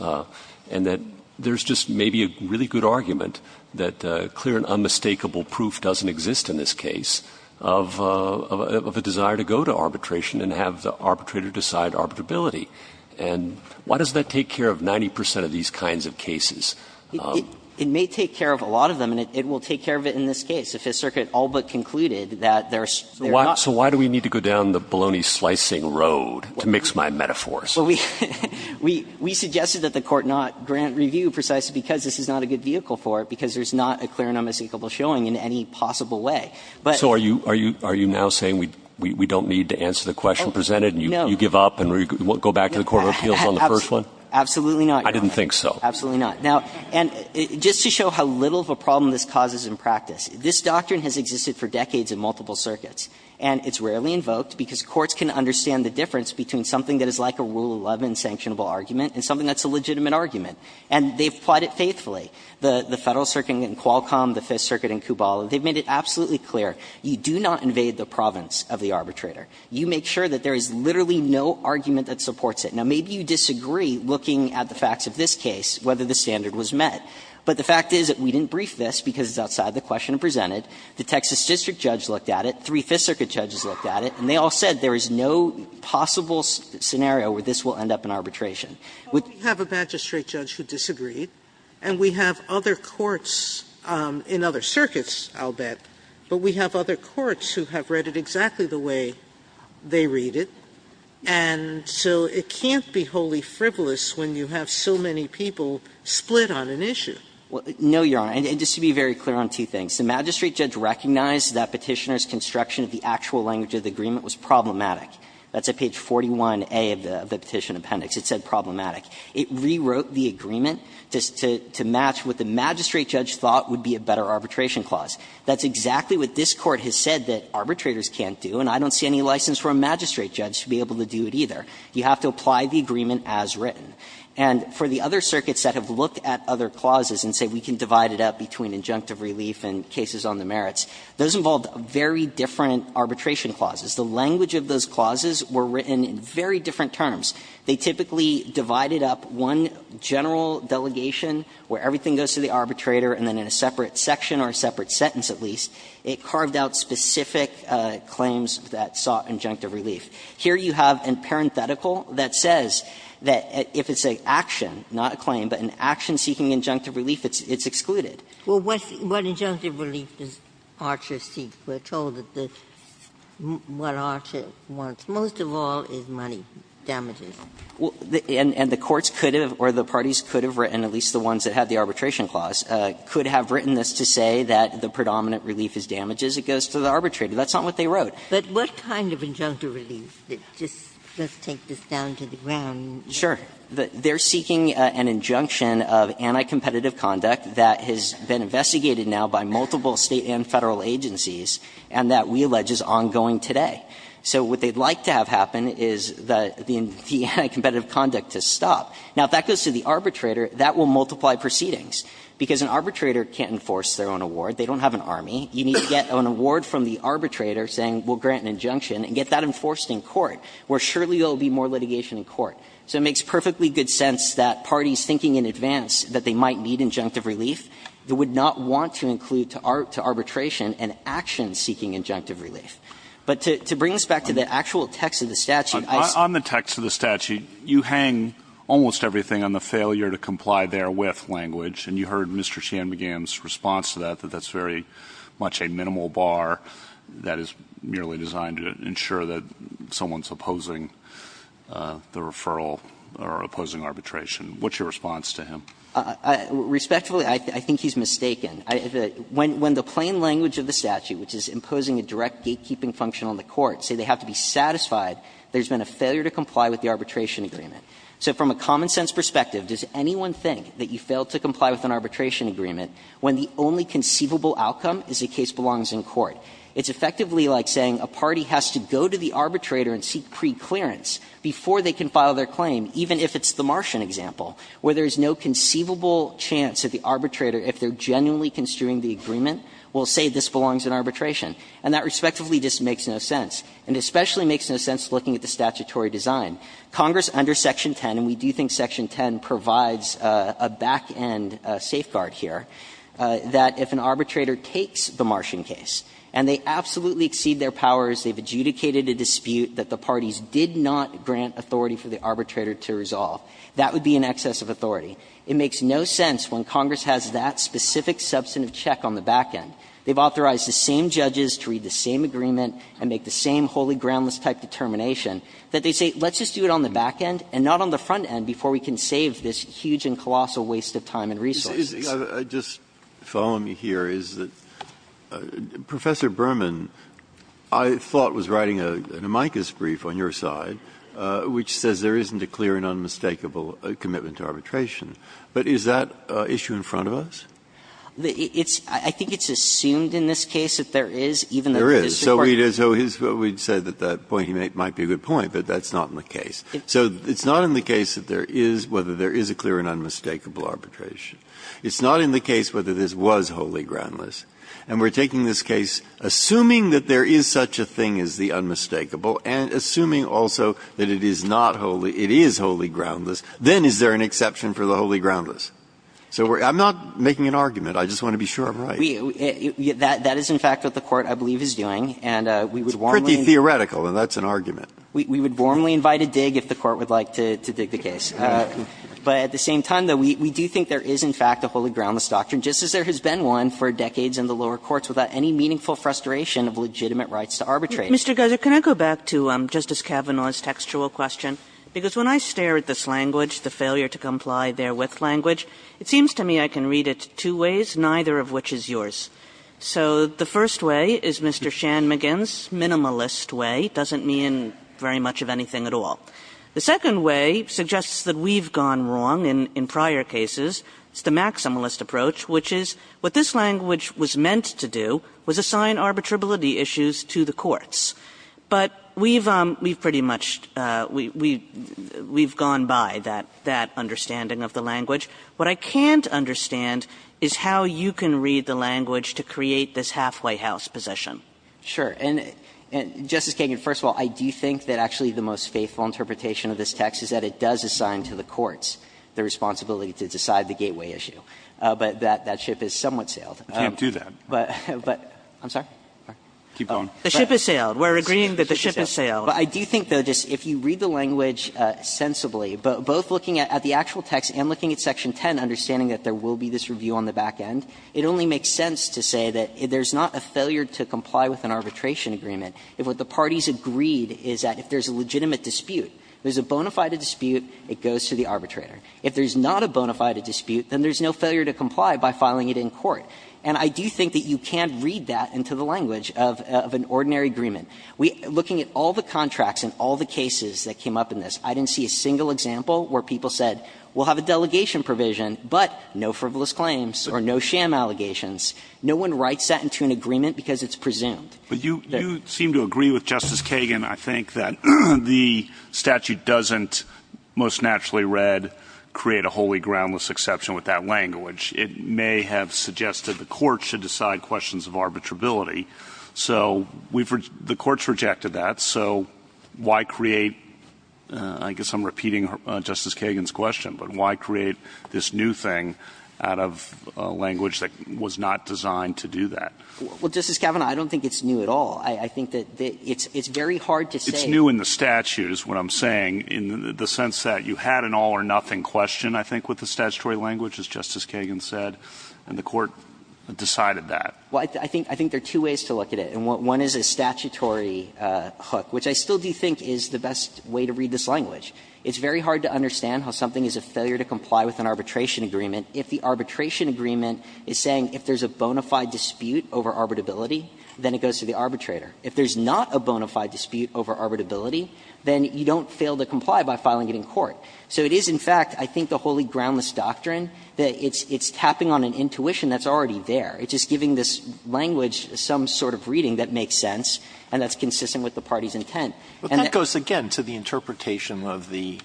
and that there's just maybe a really good argument that clear and unmistakable proof doesn't exist in this case of a desire to go to arbitration and have the arbitrator decide arbitrability? And why does that take care of 90 percent of these kinds of cases? It may take care of a lot of them, and it will take care of it in this case if the circuit all but concluded that there's not. So why do we need to go down the bologna slicing road to mix my metaphors? Well, we suggested that the Court not grant review precisely because this is not a good vehicle for it, because there's not a clear and unmistakable showing in any possible way. But. So are you now saying we don't need to answer the question presented? No. And you give up and go back to the court of appeals on the first one? Absolutely not, Your Honor. I didn't think so. Absolutely not. Now, and just to show how little of a problem this causes in practice, this doctrine has existed for decades in multiple circuits, and it's rarely invoked because courts can understand the difference between something that is like a Rule 11 sanctionable argument and something that's a legitimate argument, and they've applied it faithfully. The Federal Circuit in Qualcomm, the Fifth Circuit in Kubala, they've made it absolutely clear you do not invade the province of the arbitrator. You make sure that there is literally no argument that supports it. Now, maybe you disagree, looking at the facts of this case, whether the standard was met. But the fact is that we didn't brief this because it's outside the question presented. The Texas district judge looked at it, three Fifth Circuit judges looked at it, and they all said there is no possible scenario where this will end up in arbitration. Sotomayor, we have a magistrate judge who disagreed, and we have other courts in other circuits, I'll bet, but we have other courts who have read it exactly the way they read it. And so it can't be wholly frivolous when you have so many people split on an issue. No, Your Honor. And just to be very clear on two things. The magistrate judge recognized that Petitioner's construction of the actual language of the agreement was problematic. That's at page 41A of the Petition Appendix. It said problematic. It rewrote the agreement to match what the magistrate judge thought would be a better arbitration clause. That's exactly what this Court has said that arbitrators can't do, and I don't see any license for a magistrate judge to be able to do it either. You have to apply the agreement as written. And for the other circuits that have looked at other clauses and say we can divide it up between injunctive relief and cases on the merits, those involved very different arbitration clauses. The language of those clauses were written in very different terms. They typically divided up one general delegation where everything goes to the arbitrator and then in a separate section or a separate sentence, at least, it carved out specific claims that sought injunctive relief. Here you have a parenthetical that says that if it's an action, not a claim, but an action seeking injunctive relief, it's excluded. Ginsburg. Well, what injunctive relief does Archer seek? We're told that what Archer wants most of all is money damages. And the courts could have or the parties could have written, at least the ones that had the arbitration clause, could have written this to say that the predominant relief is damages. It goes to the arbitrator. That's not what they wrote. Ginsburg. But what kind of injunctive relief, just let's take this down to the ground. Sure. They're seeking an injunction of anti-competitive conduct that has been investigated now by multiple State and Federal agencies and that we allege is ongoing today. So what they'd like to have happen is the anti-competitive conduct to stop. Now, if that goes to the arbitrator, that will multiply proceedings, because an arbitrator can't enforce their own award. They don't have an army. You need to get an award from the arbitrator saying we'll grant an injunction and get that enforced in court, where surely there will be more litigation in court. So it makes perfectly good sense that parties thinking in advance that they might need injunctive relief, they would not want to include to arbitration an action seeking injunctive relief. But to bring us back to the actual text of the statute, I suppose. On the text of the statute, you hang almost everything on the failure to comply therewith language. And you heard Mr. Shanmugam's response to that, that that's very much a minimal bar that is merely designed to ensure that someone's opposing the referral or opposing arbitration. What's your response to him? Respectfully, I think he's mistaken. When the plain language of the statute, which is imposing a direct gatekeeping function on the court, say they have to be satisfied there's been a failure to comply with the arbitration agreement. So from a common-sense perspective, does anyone think that you fail to comply with an arbitration agreement when the only conceivable outcome is the case belongs in court? It's effectively like saying a party has to go to the arbitrator and seek preclearance before they can file their claim, even if it's the Martian example, where there is no conceivable chance that the arbitrator, if they're genuinely construing the agreement, will say this belongs in arbitration. And that respectively just makes no sense, and especially makes no sense looking at the statutory design. Congress under section 10, and we do think section 10 provides a back-end safeguard here, that if an arbitrator takes the Martian case and they absolutely exceed their powers, they've adjudicated a dispute that the parties did not grant authority for the arbitrator to resolve, that would be an excess of authority. It makes no sense when Congress has that specific substantive check on the back-end. They've authorized the same judges to read the same agreement and make the same wholly Let's do it on the back-end and not on the front-end before we can save this huge and colossal waste of time and resources. Breyer. Just following me here is that Professor Berman, I thought, was writing an amicus brief on your side, which says there isn't a clear and unmistakable commitment to arbitration. But is that issue in front of us? It's – I think it's assumed in this case that there is, even though this Court has said that that might be a good point, but that's not in the case. So it's not in the case that there is, whether there is a clear and unmistakable arbitration. It's not in the case whether this was wholly groundless. And we're taking this case, assuming that there is such a thing as the unmistakable and assuming also that it is not wholly – it is wholly groundless, then is there an exception for the wholly groundless? So I'm not making an argument. I just want to be sure I'm right. We – that is, in fact, what the Court, I believe, is doing. And we would warmly – It's pretty theoretical, and that's an argument. We would warmly invite a dig if the Court would like to dig the case. But at the same time, though, we do think there is, in fact, a wholly groundless doctrine, just as there has been one for decades in the lower courts without any meaningful frustration of legitimate rights to arbitrate. Mr. Geiser, can I go back to Justice Kavanaugh's textual question? Because when I stare at this language, the failure to comply therewith language, it seems to me I can read it two ways, neither of which is yours. So the first way is Mr. Shanmugam's minimalist way. It doesn't mean very much of anything at all. The second way suggests that we've gone wrong in prior cases. It's the maximalist approach, which is what this language was meant to do was assign arbitrability issues to the courts. But we've pretty much – we've gone by that understanding of the language. What I can't understand is how you can read the language to create this halfway house position. Sure. And, Justice Kagan, first of all, I do think that actually the most faithful interpretation of this text is that it does assign to the courts the responsibility to decide the gateway issue. But that ship has somewhat sailed. I can't do that. But – I'm sorry? Keep going. The ship has sailed. We're agreeing that the ship has sailed. But I do think, though, just if you read the language sensibly, both looking at the actual text and looking at section 10, understanding that there will be this review on the back end, it only makes sense to say that there's not a failure to comply with an arbitration agreement if what the parties agreed is that if there's a legitimate dispute, there's a bona fide dispute, it goes to the arbitrator. If there's not a bona fide dispute, then there's no failure to comply by filing it in court. And I do think that you can't read that into the language of an ordinary agreement. Looking at all the contracts and all the cases that came up in this, I didn't see a single example where people said, we'll have a delegation provision, but no frivolous claims or no sham allegations. No one writes that into an agreement because it's presumed. But you – you seem to agree with Justice Kagan, I think, that the statute doesn't most naturally read create a wholly groundless exception with that language. It may have suggested the Court should decide questions of arbitrability. So we've – the Court's rejected that. So why create – I guess I'm repeating Justice Kagan's question, but why create this new thing out of a language that was not designed to do that? Well, Justice Kavanaugh, I don't think it's new at all. I think that it's very hard to say. It's new in the statutes, what I'm saying, in the sense that you had an all-or-nothing question, I think, with the statutory language, as Justice Kagan said, and the Court decided that. Well, I think – I think there are two ways to look at it. One is a statutory hook, which I still do think is the best way to read this language. It's very hard to understand how something is a failure to comply with an arbitration agreement if the arbitration agreement is saying if there's a bona fide dispute over arbitrability, then it goes to the arbitrator. If there's not a bona fide dispute over arbitrability, then you don't fail to comply by filing it in court. So it is, in fact, I think the wholly groundless doctrine that it's tapping on an intuition that's already there. It's just giving this language some sort of reading that makes sense and that's consistent with the party's intent. And that goes, again, to the interpretation of the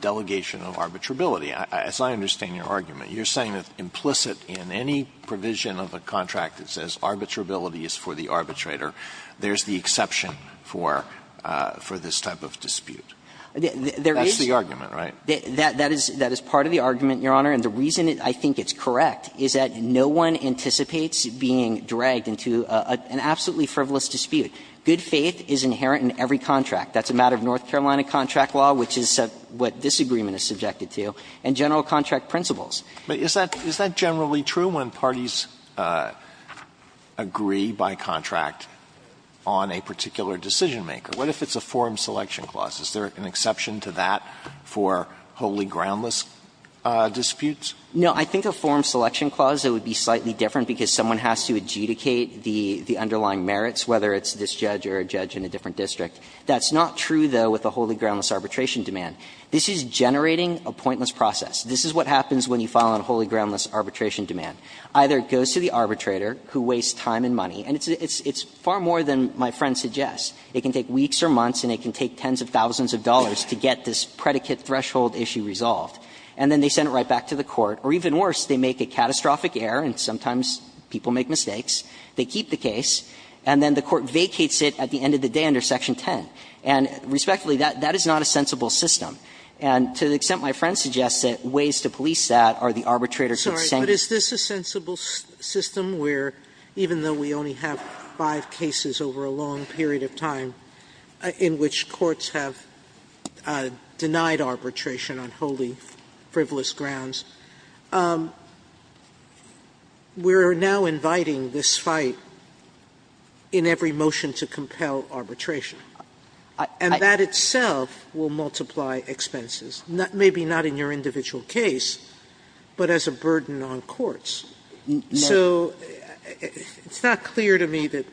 delegation of arbitrability. As I understand your argument, you're saying that implicit in any provision of a contract that says arbitrability is for the arbitrator, there's the exception for this type of dispute. That's the argument, right? That is part of the argument, Your Honor. And the reason I think it's correct is that no one anticipates being dragged into an absolutely frivolous dispute. Good faith is inherent in every contract. That's a matter of North Carolina contract law, which is what this agreement is subjected to, and general contract principles. Alitoso, is that generally true when parties agree by contract on a particular decision-maker? What if it's a form selection clause? Is there an exception to that for wholly groundless disputes? No. I think a form selection clause, it would be slightly different because someone has to adjudicate the underlying merits, whether it's this judge or a judge in a different district. That's not true, though, with a wholly groundless arbitration demand. This is generating a pointless process. This is what happens when you file on a wholly groundless arbitration demand. Either it goes to the arbitrator, who wastes time and money, and it's far more than my friend suggests. It can take weeks or months and it can take tens of thousands of dollars to get this predicate threshold issue resolved. And then they send it right back to the court. Or even worse, they make a catastrophic error, and sometimes people make mistakes. They keep the case, and then the court vacates it at the end of the day under Section 10. And respectfully, that is not a sensible system. And to the extent my friend suggests that ways to police that are the arbitrator could say. Sotomayor, but is this a sensible system where, even though we only have five cases over a long period of time in which courts have denied arbitration on wholly frivolous grounds, we're now inviting this fight in every motion to compel arbitration. And that itself will multiply expenses, maybe not in your individual case, but as a burden on courts. So it's not clear to me that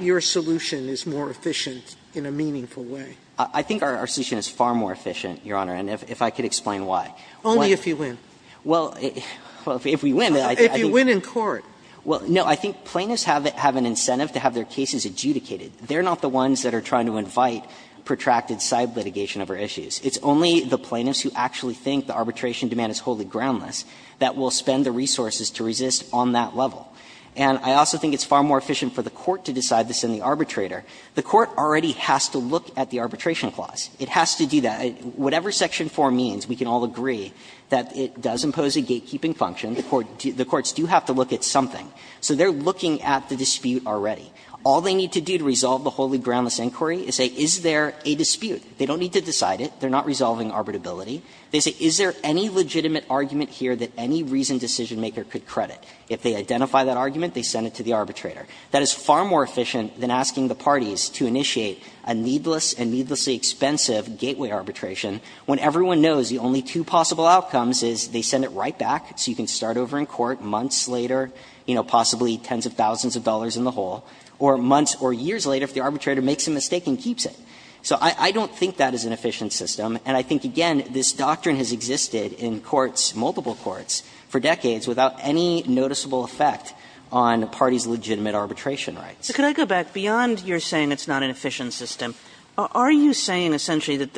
your solution is more efficient in a meaningful way. I think our solution is far more efficient, Your Honor, and if I could explain why. Only if you win. Well, if we win. If you win in court. Well, no, I think plaintiffs have an incentive to have their cases adjudicated. They're not the ones that are trying to invite protracted side litigation over issues. It's only the plaintiffs who actually think the arbitration demand is wholly groundless that will spend the resources to resist on that level. And I also think it's far more efficient for the court to decide this than the arbitrator. The court already has to look at the arbitration clause. It has to do that. Whatever Section 4 means, we can all agree that it does impose a gatekeeping function. The courts do have to look at something. So they're looking at the dispute already. All they need to do to resolve the wholly groundless inquiry is say, is there a dispute? They don't need to decide it. They're not resolving arbitrability. They say, is there any legitimate argument here that any reasoned decisionmaker could credit? If they identify that argument, they send it to the arbitrator. That is far more efficient than asking the parties to initiate a needless and needlessly expensive gateway arbitration when everyone knows the only two possible outcomes is they send it right back so you can start over in court months later, you know, possibly tens of thousands of dollars in the hole, or months or years later if the arbitrator makes a mistake and keeps it. So I don't think that is an efficient system. And I think, again, this doctrine has existed in courts, multiple courts, for decades without any noticeable effect on parties' legitimate arbitration rights. Kagan. Kagan. So could I go back beyond your saying it's not an efficient system? Are you saying essentially that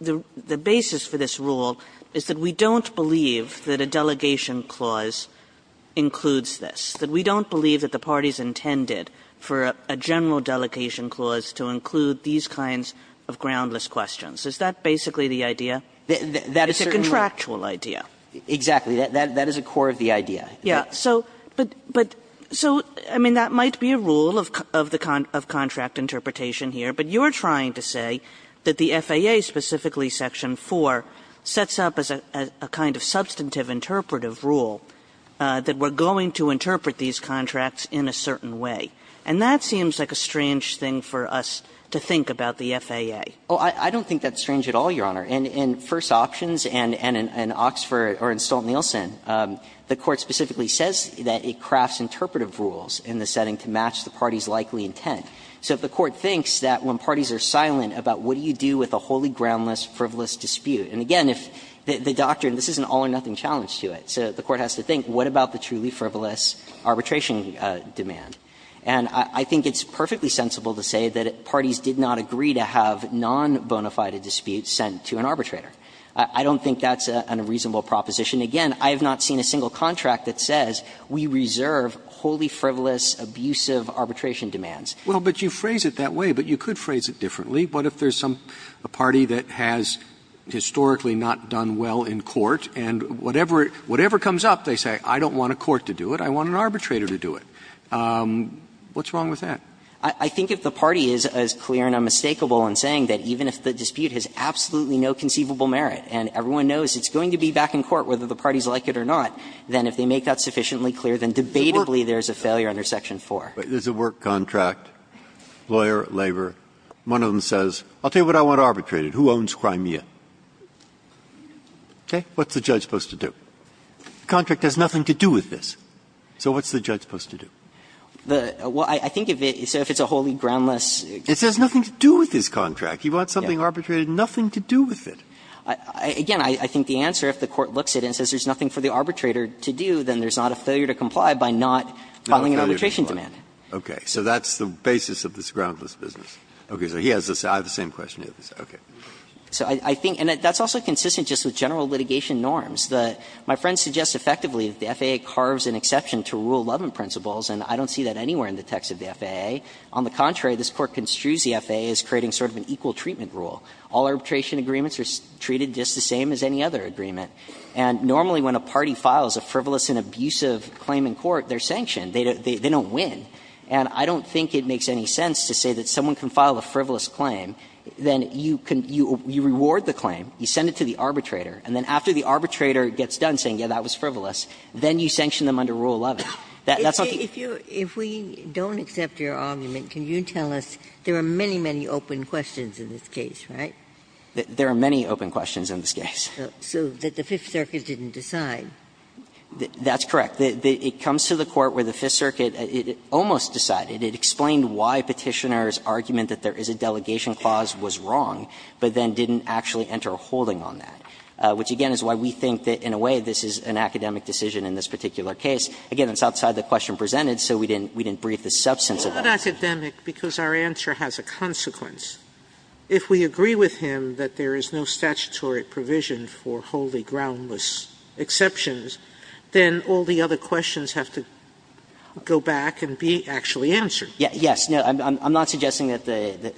the basis for this rule is that we don't believe that a delegation clause includes this, that we don't believe that the parties intended for a general delegation clause to include these kinds of groundless questions? Is that basically the idea? It's a contractual idea. Exactly. That is a core of the idea. Yes. But so, I mean, that might be a rule of contract interpretation here, but you are trying to say that the FAA, specifically section 4, sets up as a kind of substantive interpretive rule that we are going to interpret these contracts in a certain way. And that seems like a strange thing for us to think about the FAA. Oh, I don't think that's strange at all, Your Honor. In First Options and in Oxford or in Stolt-Nielsen, the Court specifically says that it crafts interpretive rules in the setting to match the parties' likely intent. So if the Court thinks that when parties are silent about what do you do with a wholly groundless, frivolous dispute. And again, if the doctrine, this is an all-or-nothing challenge to it. So the Court has to think, what about the truly frivolous arbitration demand? And I think it's perfectly sensible to say that parties did not agree to have non-bonafide disputes sent to an arbitrator. I don't think that's a reasonable proposition. Again, I have not seen a single contract that says we reserve wholly frivolous, abusive arbitration demands. Well, but you phrase it that way, but you could phrase it differently. What if there's a party that has historically not done well in court, and whatever comes up, they say, I don't want a court to do it, I want an arbitrator to do it. What's wrong with that? I think if the party is as clear and unmistakable in saying that even if the dispute has absolutely no conceivable merit, and everyone knows it's going to be back in court whether the parties like it or not, then if they make that sufficiently clear, then debatably there's a failure under Section 4. Breyer. There's a work contract, lawyer, labor. One of them says, I'll tell you what I want arbitrated, who owns Crimea? Okay. What's the judge supposed to do? The contract has nothing to do with this. So what's the judge supposed to do? The – well, I think if it's a wholly groundless – It says nothing to do with this contract. You want something arbitrated, nothing to do with it. Again, I think the answer, if the court looks at it and says there's nothing for the arbitrator to do, then there's not a failure to comply by not filing an arbitration demand. Okay. So that's the basis of this groundless business. Okay. So he has the same – I have the same question. Okay. So I think – and that's also consistent just with general litigation norms. The – my friend suggests effectively that the FAA carves an exception to Rule 11 principles, and I don't see that anywhere in the text of the FAA. On the contrary, this Court construes the FAA as creating sort of an equal treatment rule. All arbitration agreements are treated just the same as any other agreement. And normally when a party files a frivolous and abusive claim in court, they're sanctioned. They don't win. And I don't think it makes any sense to say that someone can file a frivolous claim, then you can – you reward the claim, you send it to the arbitrator, and then after the arbitrator gets done saying, yeah, that was frivolous, then you sanction them under Rule 11. That's not the case. Ginsburg. If you – if we don't accept your argument, can you tell us there are many, many open questions in this case, right? There are many open questions in this case. So that the Fifth Circuit didn't decide. That's correct. It comes to the Court where the Fifth Circuit almost decided. It explained why Petitioner's argument that there is a delegation clause was wrong, but then didn't actually enter a holding on that, which again is why we think that in a way this is an academic decision in this particular case. Again, it's outside the question presented, so we didn't – we didn't brief the substance of that. Sotomayor, because our answer has a consequence. If we agree with him that there is no statutory provision for wholly groundless exceptions, then all the other questions have to go back and be actually answered. Yes. No, I'm not suggesting that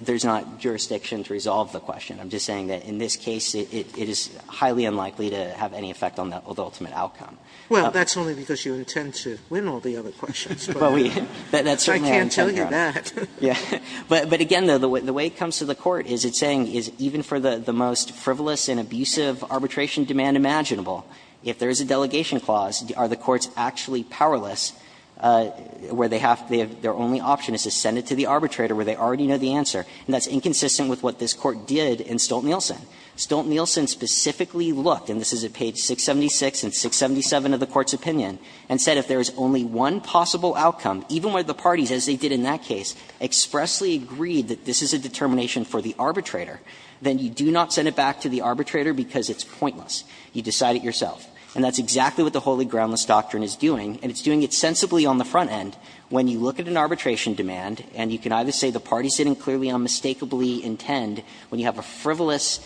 there's not jurisdiction to resolve the question. I'm just saying that in this case it is highly unlikely to have any effect on the ultimate outcome. Well, that's only because you intend to win all the other questions. But we – that's certainly our intent, Your Honor. I can't tell you that. Yeah. But again, the way it comes to the Court is it's saying even for the most frivolous and abusive arbitration demand imaginable, if there is a delegation clause, are the courts actually powerless where they have – their only option is to send it to the arbitrator where they already know the answer, and that's inconsistent with what this Court did in Stolt-Nielsen. Stolt-Nielsen specifically looked, and this is at page 676 and 677 of the Court's opinion, and said if there is only one possible outcome, even where the parties, as they did in that case, expressly agreed that this is a determination for the arbitrator, then you do not send it back to the arbitrator because it's pointless. You decide it yourself. And that's exactly what the Holy Groundless Doctrine is doing, and it's doing it sensibly on the front end when you look at an arbitration demand and you can either say the parties didn't clearly unmistakably intend, when you have a frivolous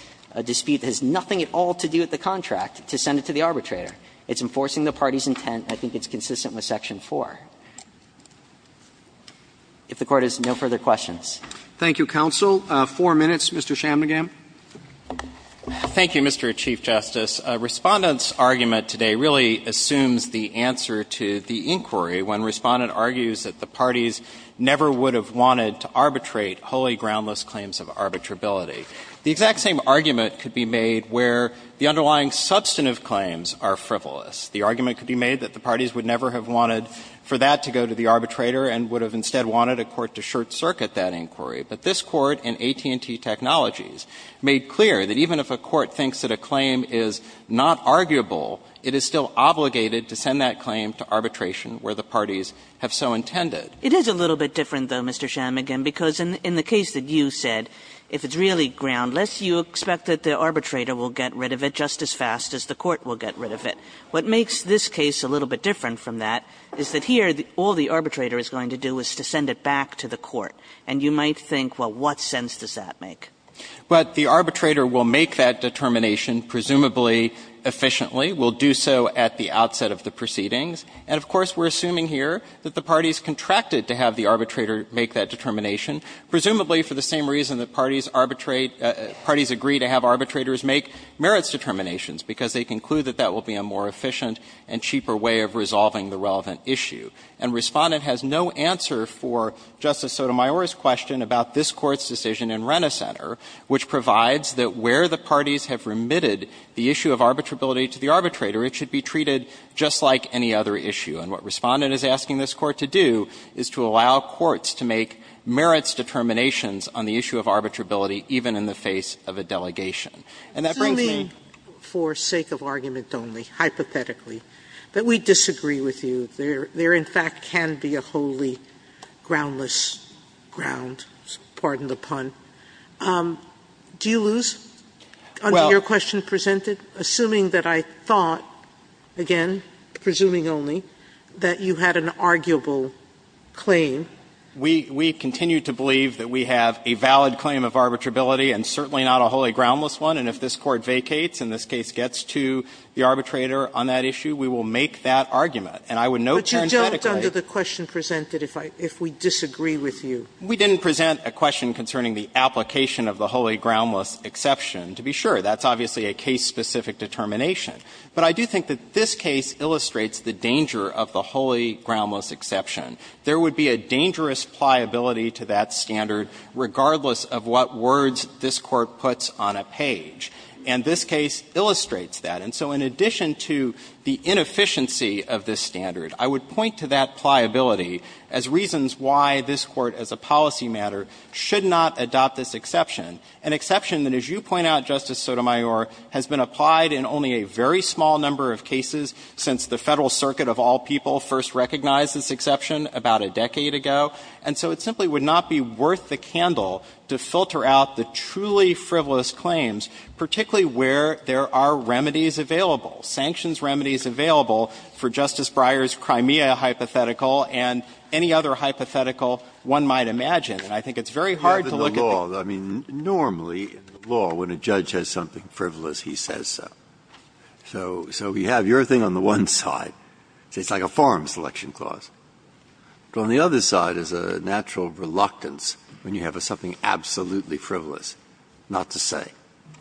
dispute that has nothing at all to do with the contract, to send it to the arbitrator. It's enforcing the parties' intent. I think it's consistent with section 4. If the Court has no further questions. Roberts Thank you, counsel. Four minutes, Mr. Chamnagam. Chamnagam Thank you, Mr. Chief Justice. Respondent's argument today really assumes the answer to the inquiry when Respondent argues that the parties never would have wanted to arbitrate holy groundless claims of arbitrability. The exact same argument could be made where the underlying substantive claims are frivolous. The argument could be made that the parties would never have wanted for that to go to the arbitrator and would have instead wanted a court to short-circuit that inquiry. But this Court in AT&T Technologies made clear that even if a court thinks that a claim is not arguable, it is still obligated to send that claim to arbitration where the parties have so intended. Kagan It is a little bit different, though, Mr. Chamnagam, because in the case that you said, if it's really groundless, you expect that the arbitrator will get rid of it just as fast as the court will get rid of it. What makes this case a little bit different from that is that here all the arbitrator is going to do is to send it back to the court. And you might think, well, what sense does that make? Chamnagam Well, the arbitrator will make that determination presumably efficiently, will do so at the outset of the proceedings. And, of course, we're assuming here that the parties contracted to have the arbitrator make that determination, presumably for the same reason that parties arbitrate – parties agree to have arbitrators make merits determinations, because they conclude that that will be a more efficient and cheaper way of resolving the relevant issue. And Respondent has no answer for Justice Sotomayor's question about this Court's decision in Renner Center, which provides that where the parties have remitted the issue of arbitrability to the arbitrator, it should be treated just like any other issue. And what Respondent is asking this Court to do is to allow courts to make merits determinations on the issue of arbitrability even in the face of a delegation. And that brings me— Sotomayor Assuming, for the sake of argument only, hypothetically, that we disagree with you, there in fact can be a wholly groundless ground, pardon the pun – do you lose under your question presented? Assuming that I thought, again, presuming only, that you had an arguable claim— Chamnagam —we continue to believe that we have a valid claim of arbitrability and certainly not a wholly groundless one, and if this Court vacates and this case gets to the arbitrator on that issue, we will make that argument. And I would note parenthetically— But you don't, under the question presented, if we disagree with you. We didn't present a question concerning the application of the wholly groundless exception, to be sure. That's obviously a case-specific determination. But I do think that this case illustrates the danger of the wholly groundless exception. There would be a dangerous pliability to that standard regardless of what words this Court puts on a page. And this case illustrates that. And so in addition to the inefficiency of this standard, I would point to that pliability as reasons why this Court, as a policy matter, should not adopt this exception, an exception that, as you point out, Justice Sotomayor, has been applied in only a very small number of cases since the Federal Circuit of all people first recognized this exception about a decade ago. And so it simply would not be worth the candle to filter out the truly frivolous claims, particularly where there are remedies available, sanctions remedies available for Justice Breyer's Crimea hypothetical and any other hypothetical one might imagine. And I think it's very hard to look at the— Breyer, normally in the law, when a judge has something frivolous, he says so. So you have your thing on the one side, so it's like a farm selection clause. But on the other side is a natural reluctance when you have something absolutely frivolous not to say.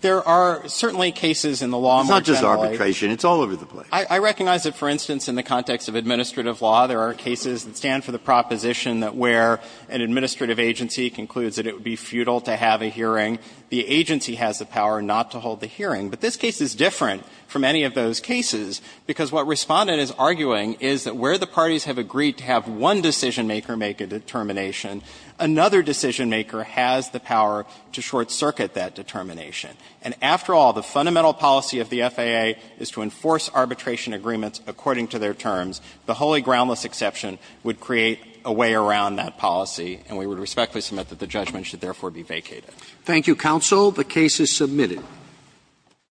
There are certainly cases in the law more generally— It's not just arbitration. It's all over the place. I recognize that, for instance, in the context of administrative law, there are cases that stand for the proposition that where an administrative agency concludes that it would be futile to have a hearing, the agency has the power not to hold the hearing. But this case is different from any of those cases, because what Respondent is arguing is that where the parties have agreed to have one decisionmaker make a determination, another decisionmaker has the power to short-circuit that determination. And after all, the fundamental policy of the FAA is to enforce arbitration agreements according to their terms. The wholly groundless exception would create a way around that policy, and we would respectfully submit that the judgment should therefore be vacated. Thank you, counsel. The case is submitted.